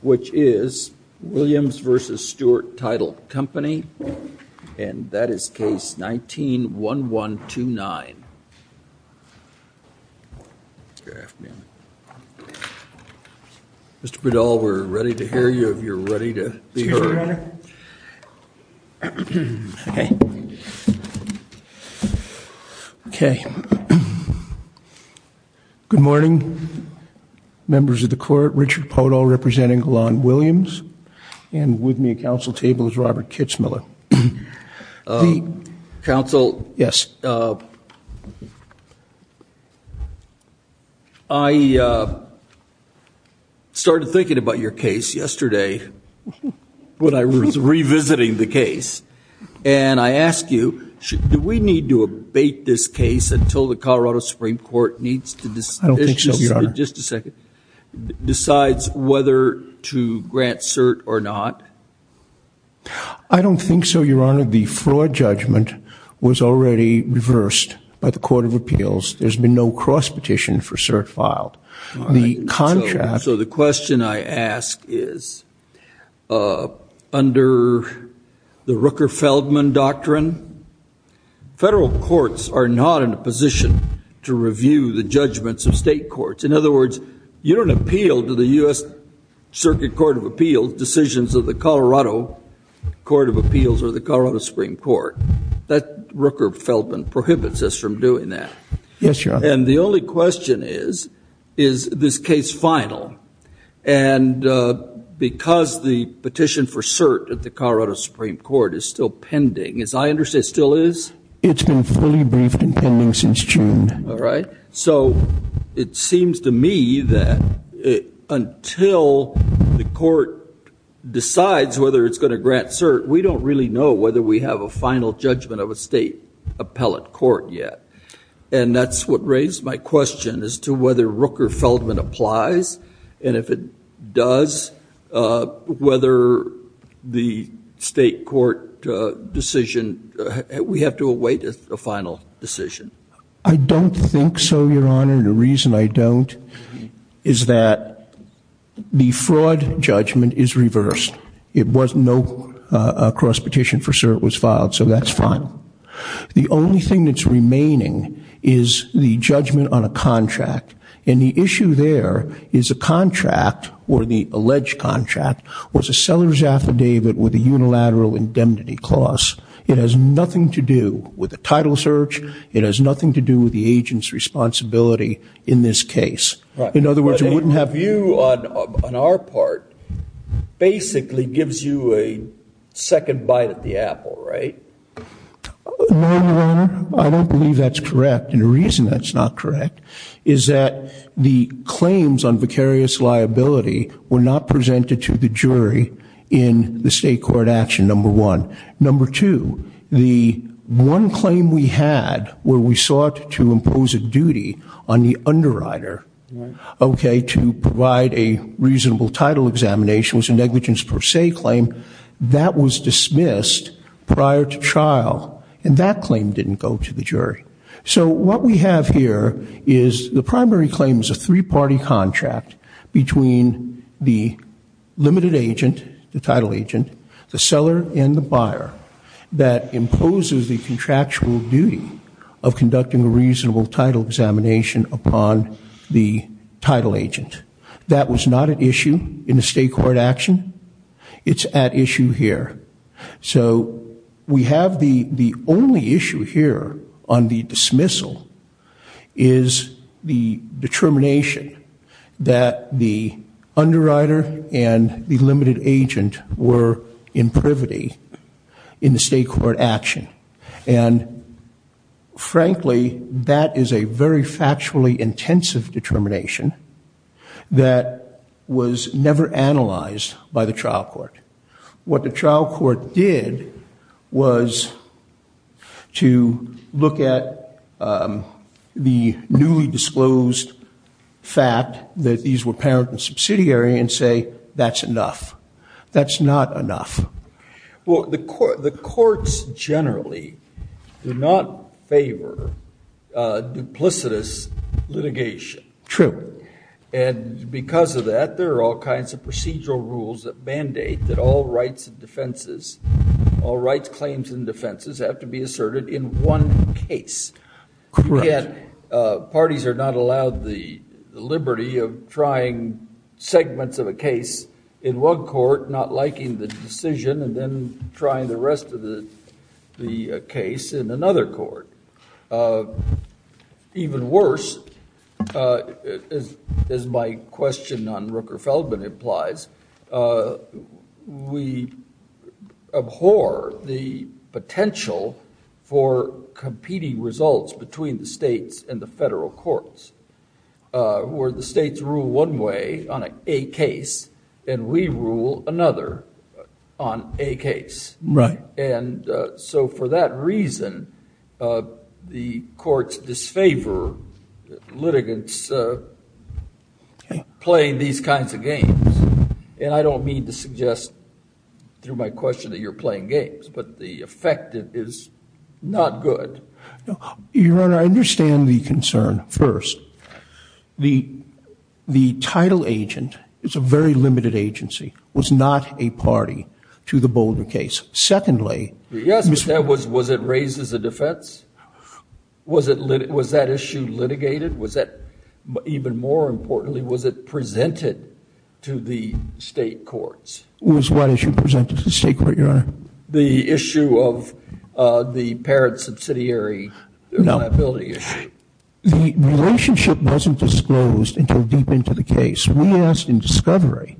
which is Williams v. Stewart Title Company and that is case 19-1129. Good afternoon. Mr. Bredahl, we're ready to hear you if you're ready to be heard. Okay. Okay. Good morning members of the court. Richard Podol representing Golan Williams and with me at council table is Robert Kitzmiller. Council. Yes. I started thinking about your case yesterday when I was revisiting the case and I asked you do we need to abate this case until the Colorado Supreme Court needs to decide whether to grant cert or not? I don't think so, your honor. The fraud judgment was already reversed by the Court of Appeals. There's a question I ask is under the Rooker-Feldman doctrine, federal courts are not in a position to review the judgments of state courts. In other words, you don't appeal to the US Circuit Court of Appeals decisions of the Colorado Court of Appeals or the Colorado Supreme Court. That Rooker-Feldman prohibits us from doing that. Yes, your honor. And the only question is, is this case final? And because the petition for cert at the Colorado Supreme Court is still pending, as I understand it still is? It's been fully briefed and pending since June. All right. So it seems to me that until the court decides whether it's going to grant cert, we don't really know whether we have a final judgment of a state appellate court yet. And that's what raised my question as to whether Rooker-Feldman applies. And if it does, whether the state court decision, we have to await a final decision. I don't think so, your honor. The reason I don't is that the fraud judgment is reversed. It was no cross petition for cert was filed, so that's final. The only thing that's remaining is the judgment on a contract. And the issue there is a contract or the alleged contract was a seller's affidavit with a unilateral indemnity clause. It has nothing to do with a title search. It has nothing to do with the agent's responsibility in this case. In other words, it wouldn't have... You, on our part, basically gives you a second bite at the end. No, your honor. I don't believe that's correct. And the reason that's not correct is that the claims on vicarious liability were not presented to the jury in the state court action, number one. Number two, the one claim we had where we sought to impose a duty on the underwriter, okay, to provide a reasonable title examination was a negligence per se claim. That was dismissed prior to trial and that claim didn't go to the jury. So what we have here is the primary claim is a three-party contract between the limited agent, the title agent, the seller, and the buyer that imposes the contractual duty of conducting a reasonable title examination upon the title agent. That was not an issue in the state court action. It's at issue here. So we have the only issue here on the dismissal is the determination that the underwriter and the limited agent were in privity in the state court action. And frankly, that is a very factually intensive determination that was never analyzed by the trial court. What the trial court did was to look at the newly disclosed fact that these were parent and subsidiary and say that's enough. That's not enough. Well, the courts generally do not favor duplicitous litigation. True. And because of that, there are all kinds of procedural rules that mandate that all rights and defenses, all rights, claims, and defenses have to be asserted in one case. Yet parties are not allowed the liberty of trying segments of a case in one court, not liking the decision, and then trying the rest of the case in another court. Even worse, as my question on Rooker-Feldman implies, we abhor the potential for competing results between the states and on a case and we rule another on a case. Right. And so for that reason, the courts disfavor litigants playing these kinds of games. And I don't mean to suggest through my question that you're playing games, but the effect is not good. Your The title agent, it's a very limited agency, was not a party to the Boulder case. Secondly, was it raised as a defense? Was that issue litigated? Was that, even more importantly, was it presented to the state courts? Was what issue presented to the state court, your honor? The issue of the until deep into the case. We asked in discovery,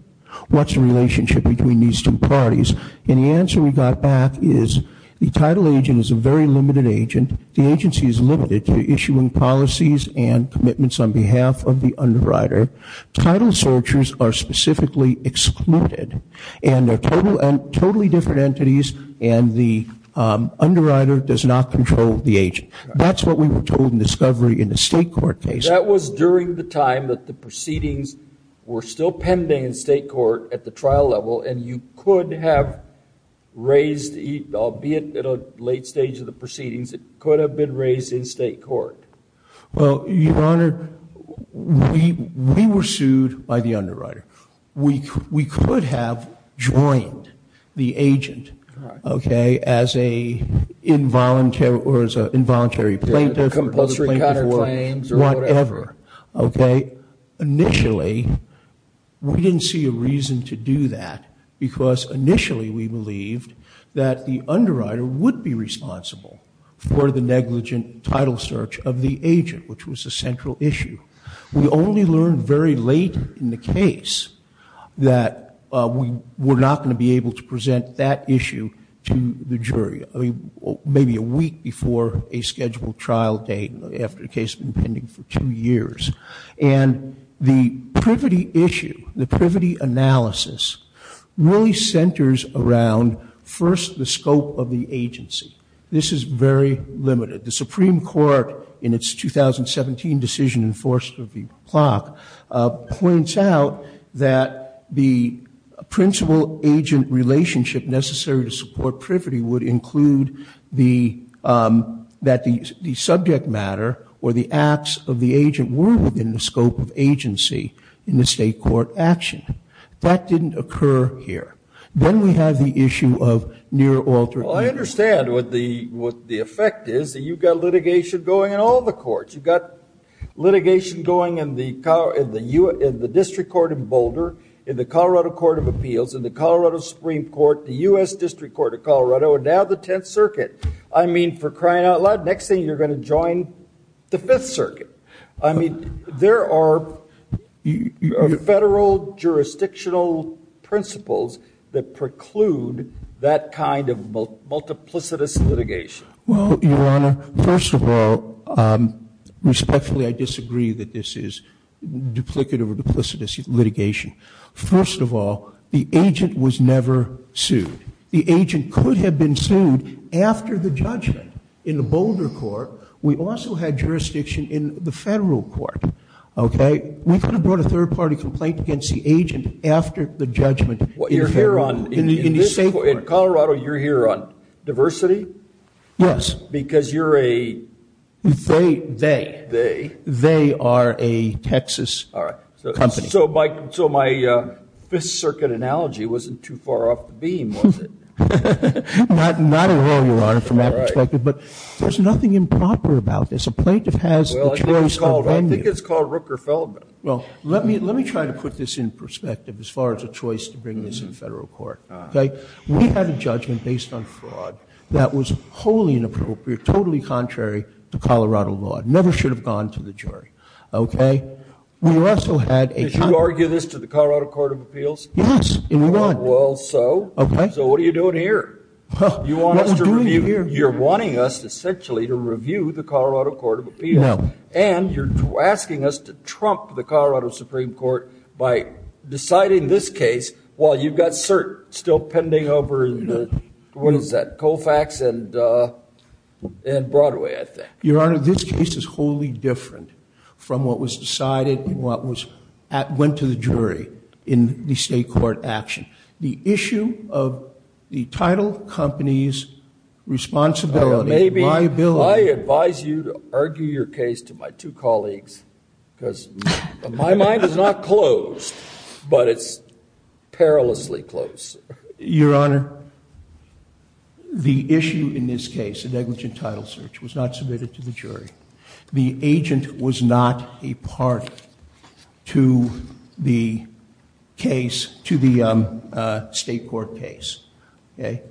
what's the relationship between these two parties? And the answer we got back is the title agent is a very limited agent. The agency is limited to issuing policies and commitments on behalf of the underwriter. Title searchers are specifically excluded, and they're totally different entities, and the underwriter does not control the agent. That's what we were told in discovery in the state court case. That was during the time that the proceedings were still pending in state court at the trial level, and you could have raised, albeit at a late stage of the proceedings, it could have been raised in state court. Well, your honor, we were sued by the underwriter. We could have joined the agent, okay, as a voluntary plaintiff, whatever, okay? Initially, we didn't see a reason to do that, because initially we believed that the underwriter would be responsible for the negligent title search of the agent, which was a central issue. We only learned very late in the case that we were not going to be able to present that issue to the jury, I mean, maybe a week before a scheduled trial date, after the case had been pending for two years. And the privity issue, the privity analysis, really centers around, first, the scope of the agency. This is very limited. The Supreme Court, in its 2017 decision in force of the clock, points out that the principal-agent relationship necessary to support privity would include that the subject matter or the acts of the agent were within the scope of agency in the state court action. That didn't occur here. Then we have the issue of near alternate. Well, I understand what the effect is, that you've got litigation going in all the courts. You've got litigation going in the Colorado Supreme Court, the U.S. District Court of Colorado, and now the Tenth Circuit. I mean, for crying out loud, next thing you're going to join the Fifth Circuit. I mean, there are federal jurisdictional principles that preclude that kind of multiplicitous litigation. Well, Your Honor, first of all, respectfully, I disagree that this is duplicative or duplicitous litigation. First of all, the agent was never sued. The agent could have been sued after the judgment in the Boulder Court. We also had jurisdiction in the federal court, okay? We could have brought a third-party complaint against the agent after the judgment in the state court. In Colorado, you're here on diversity? Yes. Because you're a... They are a Texas company. So my Fifth Circuit analogy wasn't too far off the beam, was it? Not at all, Your Honor, from that perspective. But there's nothing improper about this. A plaintiff has the choice of venue. Well, I think it's called Rooker-Feldman. Well, let me try to put this in perspective as far as a choice to bring this in federal court. We had a judgment based on fraud that was wholly inappropriate, totally contrary to Colorado law. Never should have gone to the jury, okay? We also had a... Did you argue this to the Colorado Court of Appeals? Yes, and we won. Well, so? Okay. So what are you doing here? You want us to review... What are we doing here? You're wanting us, essentially, to review the Colorado Court of Appeals. No. And you're asking us to trump the Colorado Supreme Court by deciding this case while you've got cert still pending over, you know, what is that, Colfax and Broadway, I think. Your Honor, this case is wholly different from what was decided and what went to the jury in the state court action. The issue of the title, companies, responsibility, liability... I advise you to argue your case to my two colleagues, because my mind is not closed, but it's perilously close. Your Honor, the issue in this case, the negligent title search, was not submitted to the jury. The agent was not a part to the case, to the state court case, okay?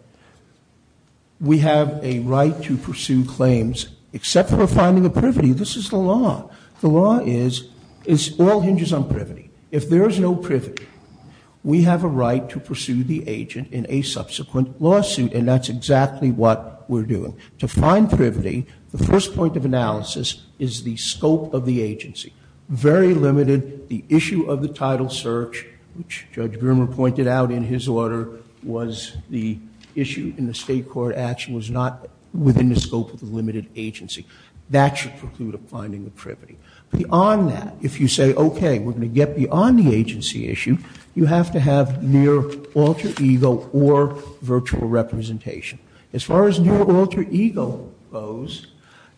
We have a right to pursue claims, except for finding a privity. This is the law. The law is, it all hinges on privity. If there is no privity, we have a right to subsequent lawsuit, and that's exactly what we're doing. To find privity, the first point of analysis is the scope of the agency. Very limited. The issue of the title search, which Judge Grimmer pointed out in his order, was the issue in the state court action, was not within the scope of the limited agency. That should preclude a finding of privity. Beyond that, if you say, okay, we're going to get beyond the agency issue, you have to have near alter ego or virtual representation. As far as near alter ego goes,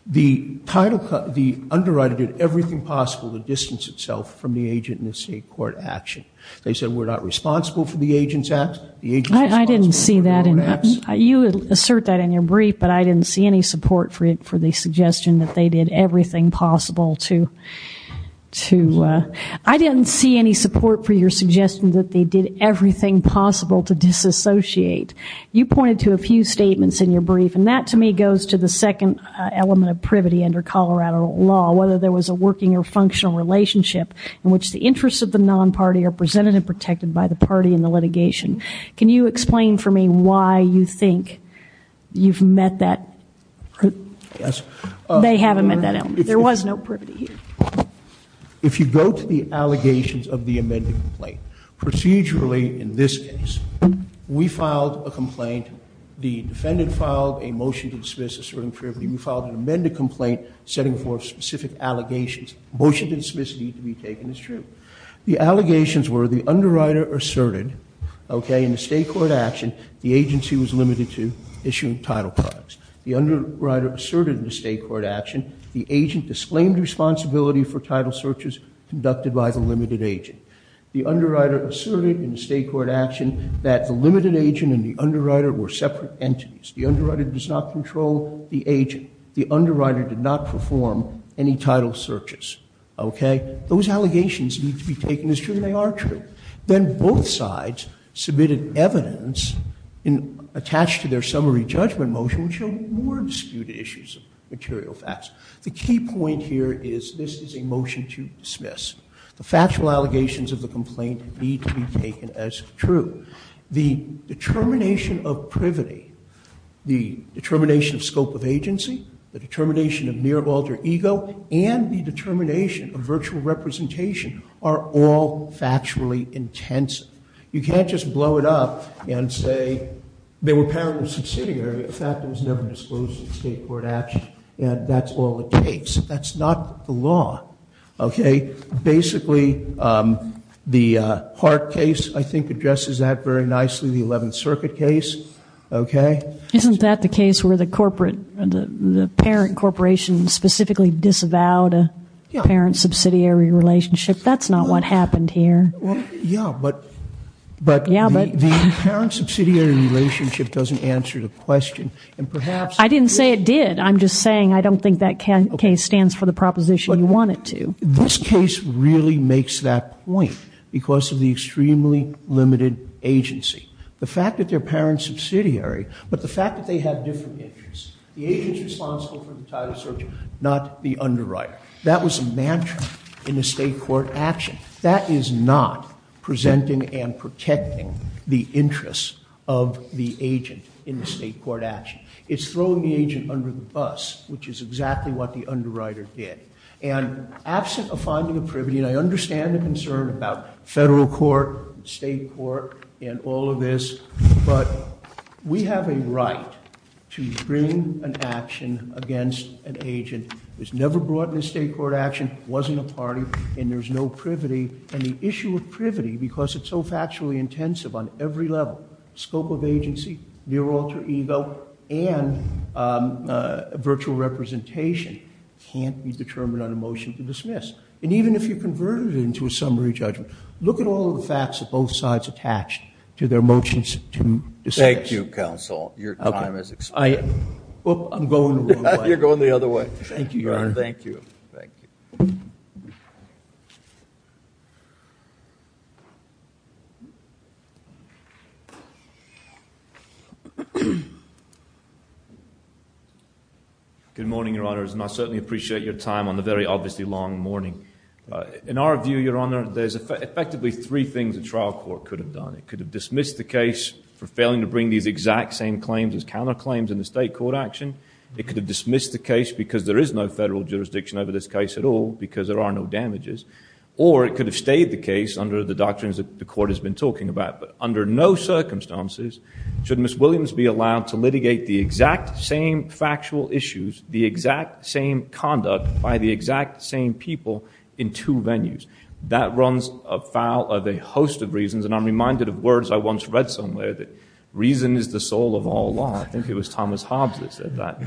the title, the underwriter did everything possible to distance itself from the agent in the state court action. They said, we're not responsible for the agent's acts. I didn't see that, and you assert that in your brief, but I didn't see any support for it, for the everything possible to, to, I didn't see any support for your suggestion that they did everything possible to disassociate. You pointed to a few statements in your brief, and that, to me, goes to the second element of privity under Colorado law, whether there was a working or functional relationship in which the interests of the non-party are presented and protected by the party in the litigation. Can you explain for me why you think you've met that, they haven't met that element. There was no privity here. If you go to the allegations of the amended complaint, procedurally, in this case, we filed a complaint. The defendant filed a motion to dismiss asserting privity. We filed an amended complaint setting forth specific allegations. Motion to dismiss need to be taken as true. The allegations were the underwriter asserted, okay, in the state court action, the agency was limited to issuing title products. The underwriter asserted in the state court action, the agent disclaimed responsibility for title searches conducted by the limited agent. The underwriter asserted in the state court action that the limited agent and the underwriter were separate entities. The underwriter does not control the agent. The underwriter did not perform any title searches, okay. Those allegations need to be taken as true. They are true. Then both sides submitted evidence in, attached to their summary judgment motion, which showed more disputed issues of material facts. The key point here is this is a motion to dismiss. The factual allegations of the complaint need to be taken as true. The determination of privity, the determination of scope of agency, the determination of mere alter ego, and the determination of virtual representation are all factually intensive. You can't just blow it up and say they were subsidiary. In fact, it was never disclosed in state court action, and that's all it takes. That's not the law, okay. Basically, the Hart case, I think, addresses that very nicely. The 11th Circuit case, okay. Isn't that the case where the corporate, the parent corporation specifically disavowed a parent subsidiary relationship? That's not what happened here. Yeah, but the parent subsidiary relationship doesn't answer the question. I didn't say it did. I'm just saying I don't think that case stands for the proposition you want it to. This case really makes that point because of the extremely limited agency. The fact that they're parent subsidiary, but the fact that they have different interests. The agent's responsible for the title search, not the underwriter. That was a mantra in the state court action. That is not presenting and protecting the interests of the agent in the state court action. It's throwing the agent under the bus, which is exactly what the underwriter did. And absent of finding a privity, and I understand the concern about federal court, state court, and all of this, but we have a right to bring an action against an agent who was never brought into state court action, wasn't a party, and there's no privity and the issue of privity, because it's so factually intensive on every level, scope of agency, near alter ego, and virtual representation can't be determined on a motion to dismiss. And even if you converted it into a summary judgment, look at all of the facts that both sides attached to their motions to dismiss. Thank you, counsel. Your time has expired. I'm going the wrong way. You're going the other way. Thank you, your honor. Thank you. Good morning, your honors, and I certainly appreciate your time on the very obviously long morning. In our view, your honor, there's effectively three things a trial court could have done. It could have dismissed the case for failing to bring these exact same claims as counterclaims in the state court action. It could have dismissed the case because there is no federal jurisdiction over this case at all, because there are no damages. Or it could have stayed the case under the doctrines that the court has been talking about. But under no circumstances should Ms. Williams be allowed to litigate the exact same factual issues, the exact same conduct by the exact same people in two venues. That runs afoul of a host of reasons, and I'm reminded of words I once read somewhere that reason is the soul of all law. I think it was Thomas Hobbs that said that.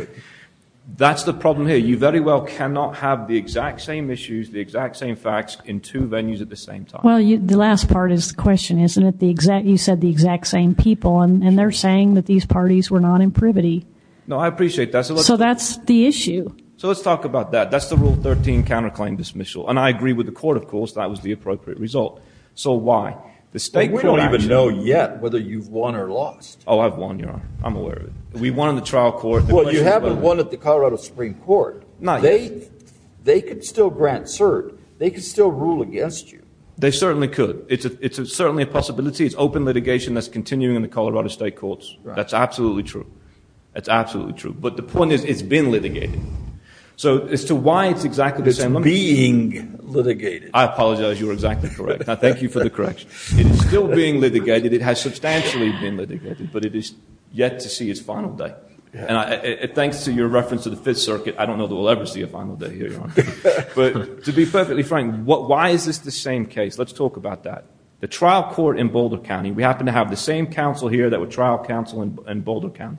That's the problem here. You very well cannot have the exact same issues, the exact same facts in two venues at the same time. Well, the last part is the question, isn't it? You said the exact same people, and they're saying that these parties were not in privity. No, I appreciate that. So that's the issue. So let's talk about that. That's the Rule 13 counterclaim dismissal. And I agree with the court, of course, that was the appropriate result. So why? The state court action. But we don't even know yet whether you've won or lost. Oh, I've won, your honor. I'm aware of it. We won in the trial court. Well, you haven't won at the Colorado Supreme Court. They could still grant cert. They could still rule against you. They certainly could. It's certainly a possibility. It's open litigation that's continuing in the Colorado state courts. That's absolutely true. That's absolutely true. But the point is it's been litigated. So as to why it's exactly the same. It's being litigated. I apologize. You're exactly correct. I thank you for the correction. It is still being litigated. It has substantially been litigated, but it is yet to see its final day. And thanks to your reference to the Fifth Circuit, I don't know that we'll ever see a final day here, your honor. But to be perfectly frank, why is this the same case? Let's talk about that. The trial court in Boulder County, we happen to have the same counsel here that would trial counsel in Boulder County.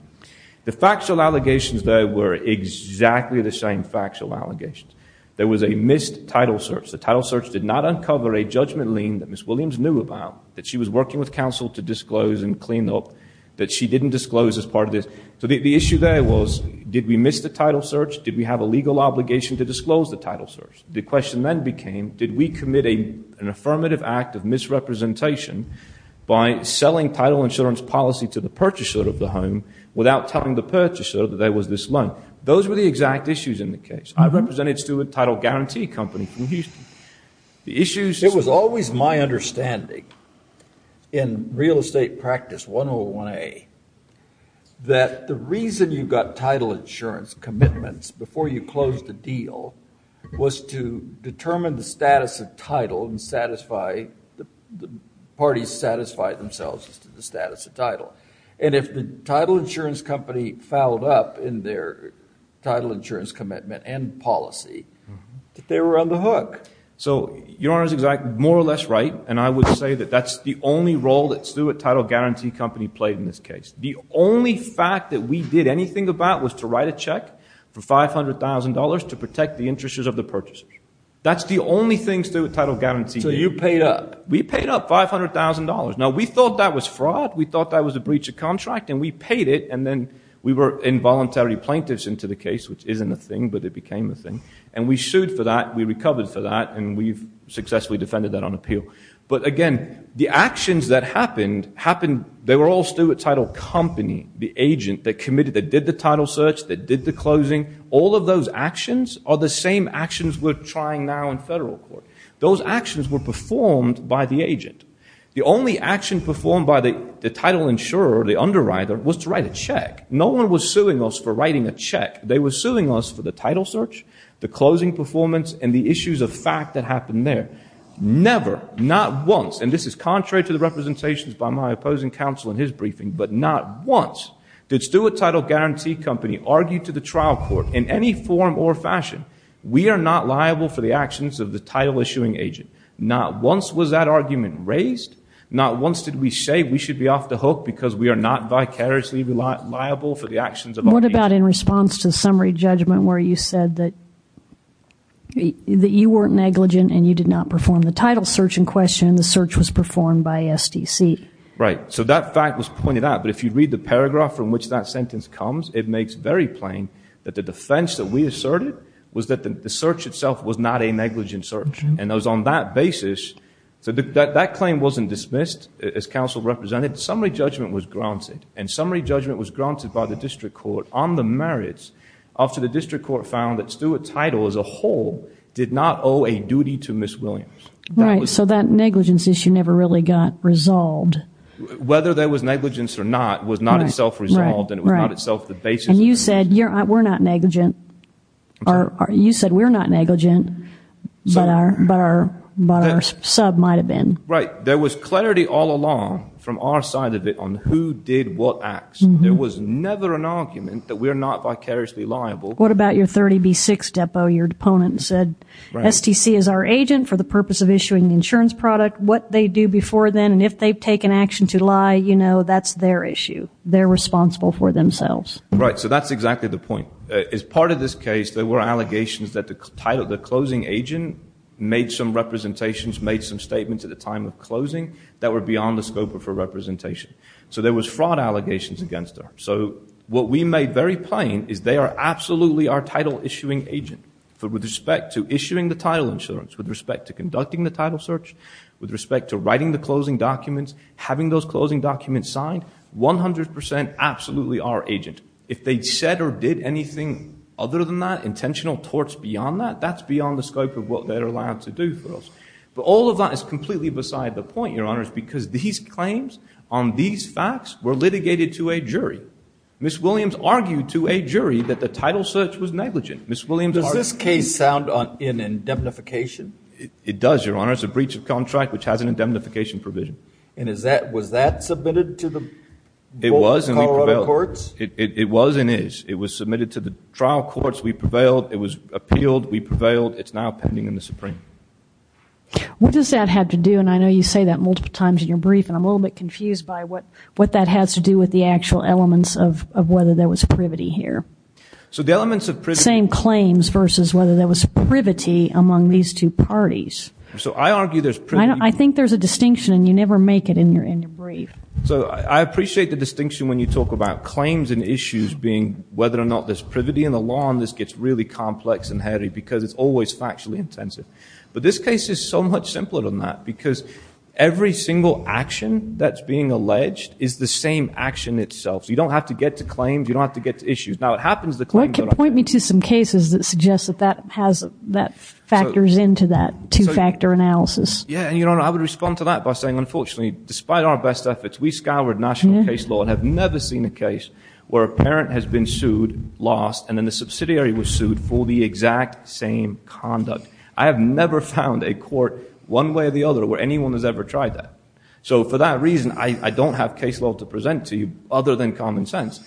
The factual allegations there were exactly the same factual allegations. There was a missed title search. The title search did not uncover a judgment lien that Ms. Williams knew about, that she was working with counsel to disclose and clean up, that she didn't disclose as part of this. So the issue there was did we miss the title search? Did we have a legal obligation to disclose the title search? The question then became did we commit an affirmative act of misrepresentation by selling title insurance policy to the purchaser of the home without telling the purchaser that there was this loan? Those were the exact issues in the case. I represented Stewart Title Guarantee Company from Houston. It was always my understanding in real estate practice 101A that the reason you got title insurance commitments before you closed the deal was to determine the status of title and satisfy the parties satisfied themselves as to the status of title. And if the title insurance company fouled up in their title insurance commitment and policy, that they were on the hook. So your Honor is more or less right, and I would say that that's the only role that Stewart Title Guarantee Company played in this case. The only fact that we did anything about was to write a check for $500,000 to protect the interests of the purchaser. That's the only thing Stewart Title Guarantee did. So you paid up. We paid up $500,000. Now we thought that was fraud. We thought that was a breach of contract, and we paid it, and then we were involuntary plaintiffs into the case, which isn't a thing, but it became a thing. And we sued for that. We recovered for that, and we've successfully defended that on appeal. But again, the actions that happened, they were all Stewart Title Company, the agent that committed, that did the title search, that did the closing. All of those actions are the same actions we're trying now in federal court. Those actions were performed by the agent. The only action performed by the title insurer or the underwriter was to write a check. No one was suing us for writing a check. They were suing us for the title search, the closing performance, and the issues of fact that happened there. Never, not once, and this is contrary to the representations by my opposing counsel in his briefing, but not once did Stewart Title Guarantee Company argue to the trial court in any form or fashion, we are not liable for the actions of the title-issuing agent. Not once was that argument raised. Not once did we say we should be off the hook because we are not vicariously liable for the actions of our agent. What about in response to the summary judgment where you said that you weren't negligent and you did not perform the title search in question and the search was performed by SDC? Right. So that fact was pointed out, but if you read the paragraph from which that sentence comes, it makes very plain that the defense that we asserted was that the search itself was not a negligent search, and it was on that basis. So that claim wasn't dismissed as counsel represented. Summary judgment was granted, and summary judgment was granted by the district court on the merits after the district court found that Stewart Title as a whole did not owe a duty to Ms. Williams. Right. So that negligence issue never really got resolved. Whether there was negligence or not was not itself resolved, and it was not itself the basis. And you said we're not negligent. You said we're not negligent, but our sub might have been. Right. There was clarity all along from our side of it on who did what acts. There was never an argument that we're not vicariously liable. What about your 30B6 depot? Your opponent said SDC is our agent for the purpose of issuing the insurance product. What they do before then, and if they've taken action to lie, you know, that's their issue. They're responsible for themselves. Right. So that's exactly the point. As part of this case, there were allegations that the closing agent made some representations, made some statements at the time of closing that were beyond the scope of her representation. So there was fraud allegations against her. So what we made very plain is they are absolutely our title-issuing agent. With respect to issuing the title insurance, with respect to conducting the title search, with respect to writing the closing documents, having those closing documents signed, 100% absolutely our agent. If they said or did anything other than that, intentional torts beyond that, that's beyond the scope of what they're allowed to do for us. But all of that is completely beside the point, Your Honor, because these claims on these facts were litigated to a jury. Ms. Williams argued to a jury that the title search was negligent. Does this case sound in indemnification? It does, Your Honor. It's a breach of contract which has an indemnification provision. And was that submitted to the Colorado courts? It was and is. It was submitted to the trial courts. We prevailed. It was appealed. We prevailed. It's now pending in the Supreme. What does that have to do, and I know you say that multiple times in your brief, and I'm a little bit confused by what that has to do with the actual elements of whether there was privity here. Same claims versus whether there was privity among these two parties. So I argue there's privity. I think there's a distinction, and you never make it in your brief. So I appreciate the distinction when you talk about claims and issues being whether or not there's privity in the law, and this gets really complex and hairy because it's always factually intensive. But this case is so much simpler than that because every single action that's being alleged is the same action itself. So you don't have to get to claims. You don't have to get to issues. Point me to some cases that suggest that that factors into that two-factor analysis. Yeah, and I would respond to that by saying, unfortunately, despite our best efforts, we scoured national case law and have never seen a case where a parent has been sued, lost, and then the subsidiary was sued for the exact same conduct. I have never found a court one way or the other where anyone has ever tried that. So for that reason, I don't have case law to present to you other than common sense.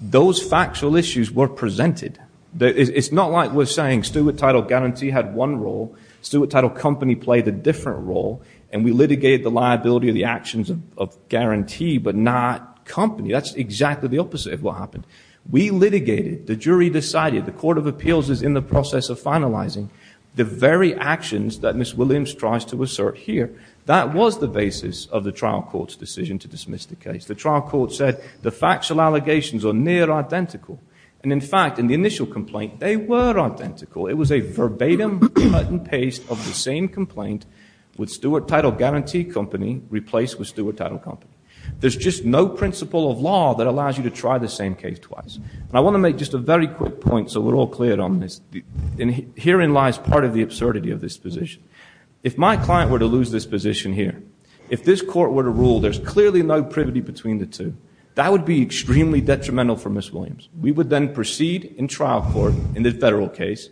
Those factual issues were presented. It's not like we're saying steward title guarantee had one role, steward title company played a different role, and we litigated the liability of the actions of guarantee but not company. That's exactly the opposite of what happened. We litigated. The jury decided. The Court of Appeals is in the process of finalizing the very actions that Ms. Williams tries to assert here. That was the basis of the trial court's decision to dismiss the case. The trial court said the factual allegations are near identical. And, in fact, in the initial complaint, they were identical. It was a verbatim cut and paste of the same complaint with steward title guarantee company replaced with steward title company. There's just no principle of law that allows you to try the same case twice. And I want to make just a very quick point so we're all clear on this. Herein lies part of the absurdity of this position. If my client were to lose this position here, if this court were to rule there's clearly no privity between the two, that would be extremely detrimental for Ms. Williams. We would then proceed in trial court in this federal case,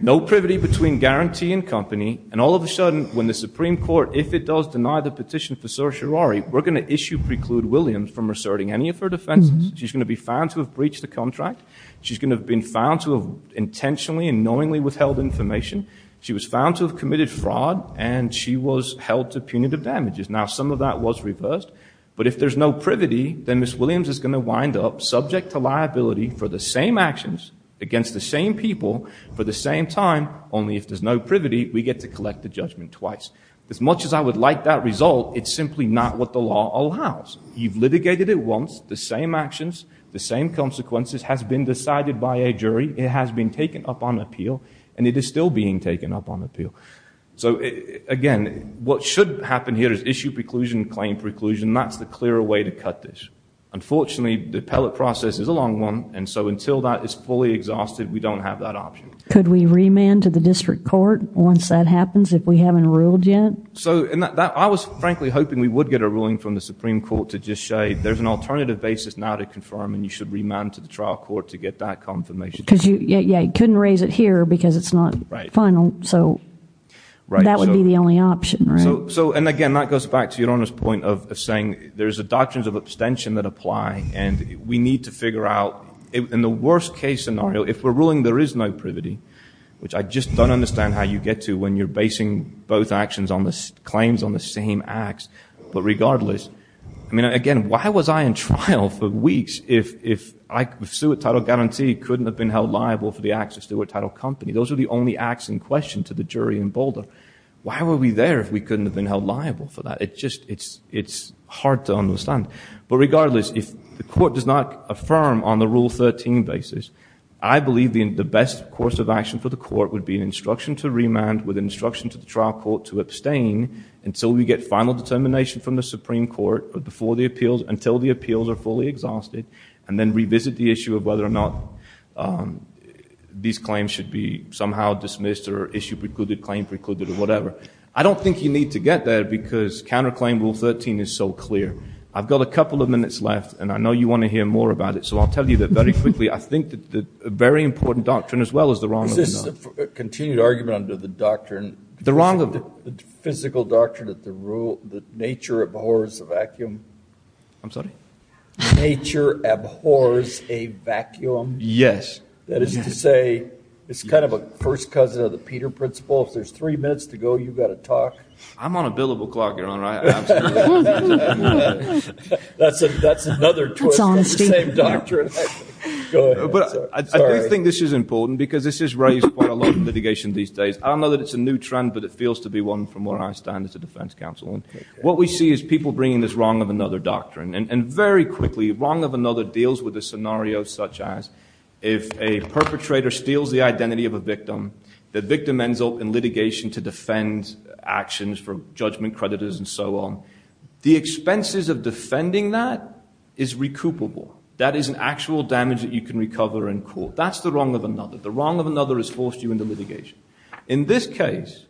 no privity between guarantee and company, and all of a sudden when the Supreme Court, if it does deny the petition for certiorari, we're going to issue preclude Williams from asserting any of her defenses. She's going to be found to have breached the contract. She's going to have been found to have intentionally and knowingly withheld information. She was found to have committed fraud and she was held to punitive damages. Now some of that was reversed, but if there's no privity, then Ms. Williams is going to wind up subject to liability for the same actions against the same people for the same time, only if there's no privity we get to collect the judgment twice. As much as I would like that result, it's simply not what the law allows. You've litigated it once, the same actions, the same consequences has been decided by a jury. It has been taken up on appeal and it is still being taken up on appeal. Again, what should happen here is issue preclusion, claim preclusion. That's the clearer way to cut this. Unfortunately, the appellate process is a long one, and so until that is fully exhausted, we don't have that option. Could we remand to the district court once that happens if we haven't ruled yet? I was frankly hoping we would get a ruling from the Supreme Court to just say there's an alternative basis now to confirm and you should remand to the trial court to get that confirmation. Yeah, you couldn't raise it here because it's not final, so that would be the only option. Again, that goes back to Your Honor's point of saying there's doctrines of abstention that apply and we need to figure out in the worst case scenario, if we're ruling there is no privity, which I just don't understand how you get to when you're basing both actions on the claims on the same acts, but regardless, I mean, again, why was I in trial for weeks if I, with steward title guarantee, couldn't have been held liable for the acts of steward title company? Those are the only acts in question to the jury in Boulder. Why were we there if we couldn't have been held liable for that? It's hard to understand. But regardless, if the court does not affirm on the Rule 13 basis, I believe the best course of action for the court would be an instruction to remand with an instruction to the trial court to abstain until we get final determination from the Supreme Court before the appeals, until the appeals are fully exhausted, and then revisit the issue of whether or not these claims should be somehow dismissed or issue precluded, claim precluded, or whatever. I don't think you need to get there because counterclaim Rule 13 is so clear. I've got a couple of minutes left, and I know you want to hear more about it, so I'll tell you that very quickly. I think that a very important doctrine as well as the wrong doctrine. This is a continued argument under the doctrine. The wrong of it. The physical doctrine that nature abhors a vacuum. I'm sorry? Nature abhors a vacuum. Yes. That is to say it's kind of a first cousin of the Peter principle. If there's three minutes to go, you've got to talk. I'm on a billable clock, Your Honor. That's another twist on the same doctrine. I do think this is important because this is raised quite a lot in litigation these days. I don't know that it's a new trend, but it feels to be one from where I stand as a defense counsel. What we see is people bringing this wrong of another doctrine, and very quickly wrong of another deals with a scenario such as if a perpetrator steals the identity of a victim, the victim ends up in litigation to defend actions for judgment creditors and so on. The expenses of defending that is recoupable. That is an actual damage that you can recover in court. That's the wrong of another. The wrong of another has forced you into litigation. In this case,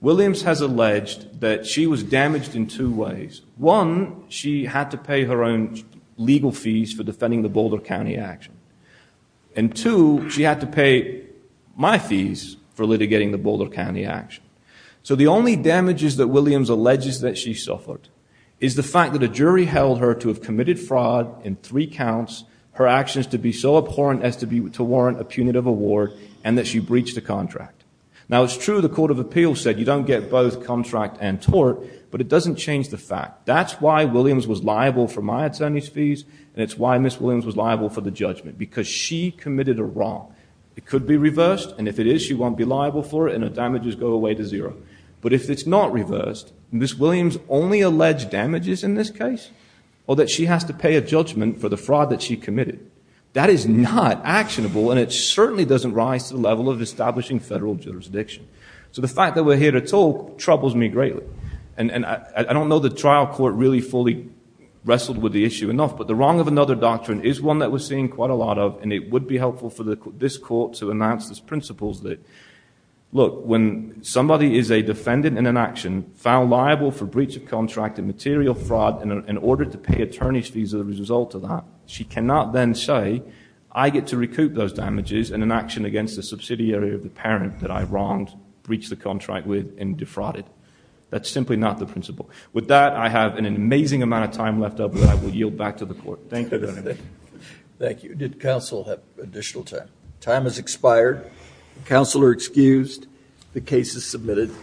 Williams has alleged that she was damaged in two ways. One, she had to pay her own legal fees for defending the Boulder County action. And two, she had to pay my fees for litigating the Boulder County action. So the only damages that Williams alleges that she suffered is the fact that a jury held her to have committed fraud in three counts, her actions to be so abhorrent as to warrant a punitive award, and that she breached a contract. Now, it's true the court of appeals said you don't get both contract and tort, but it doesn't change the fact. That's why Williams was liable for my attorney's fees, and it's why Ms. Williams was liable for the judgment, because she committed a wrong. It could be reversed, and if it is, she won't be liable for it, and her damages go away to zero. But if it's not reversed, Ms. Williams only alleged damages in this case, or that she has to pay a judgment for the fraud that she committed. That is not actionable, and it certainly doesn't rise to the level of establishing federal jurisdiction. So the fact that we're here to talk troubles me greatly. And I don't know the trial court really fully wrestled with the issue enough, but the wrong of another doctrine is one that we're seeing quite a lot of, and it would be helpful for this court to announce its principles that, look, when somebody is a defendant in an action found liable for breach of contract and material fraud in order to pay attorney's fees as a result of that, she cannot then say, I get to recoup those damages in an action against the subsidiary of the parent that I wronged, breached the contract with, and defrauded. That's simply not the principle. With that, I have an amazing amount of time left up, and I will yield back to the court. Thank you, Your Honor. Thank you. Did counsel have additional time? Time has expired. Counsel are excused. The case is submitted.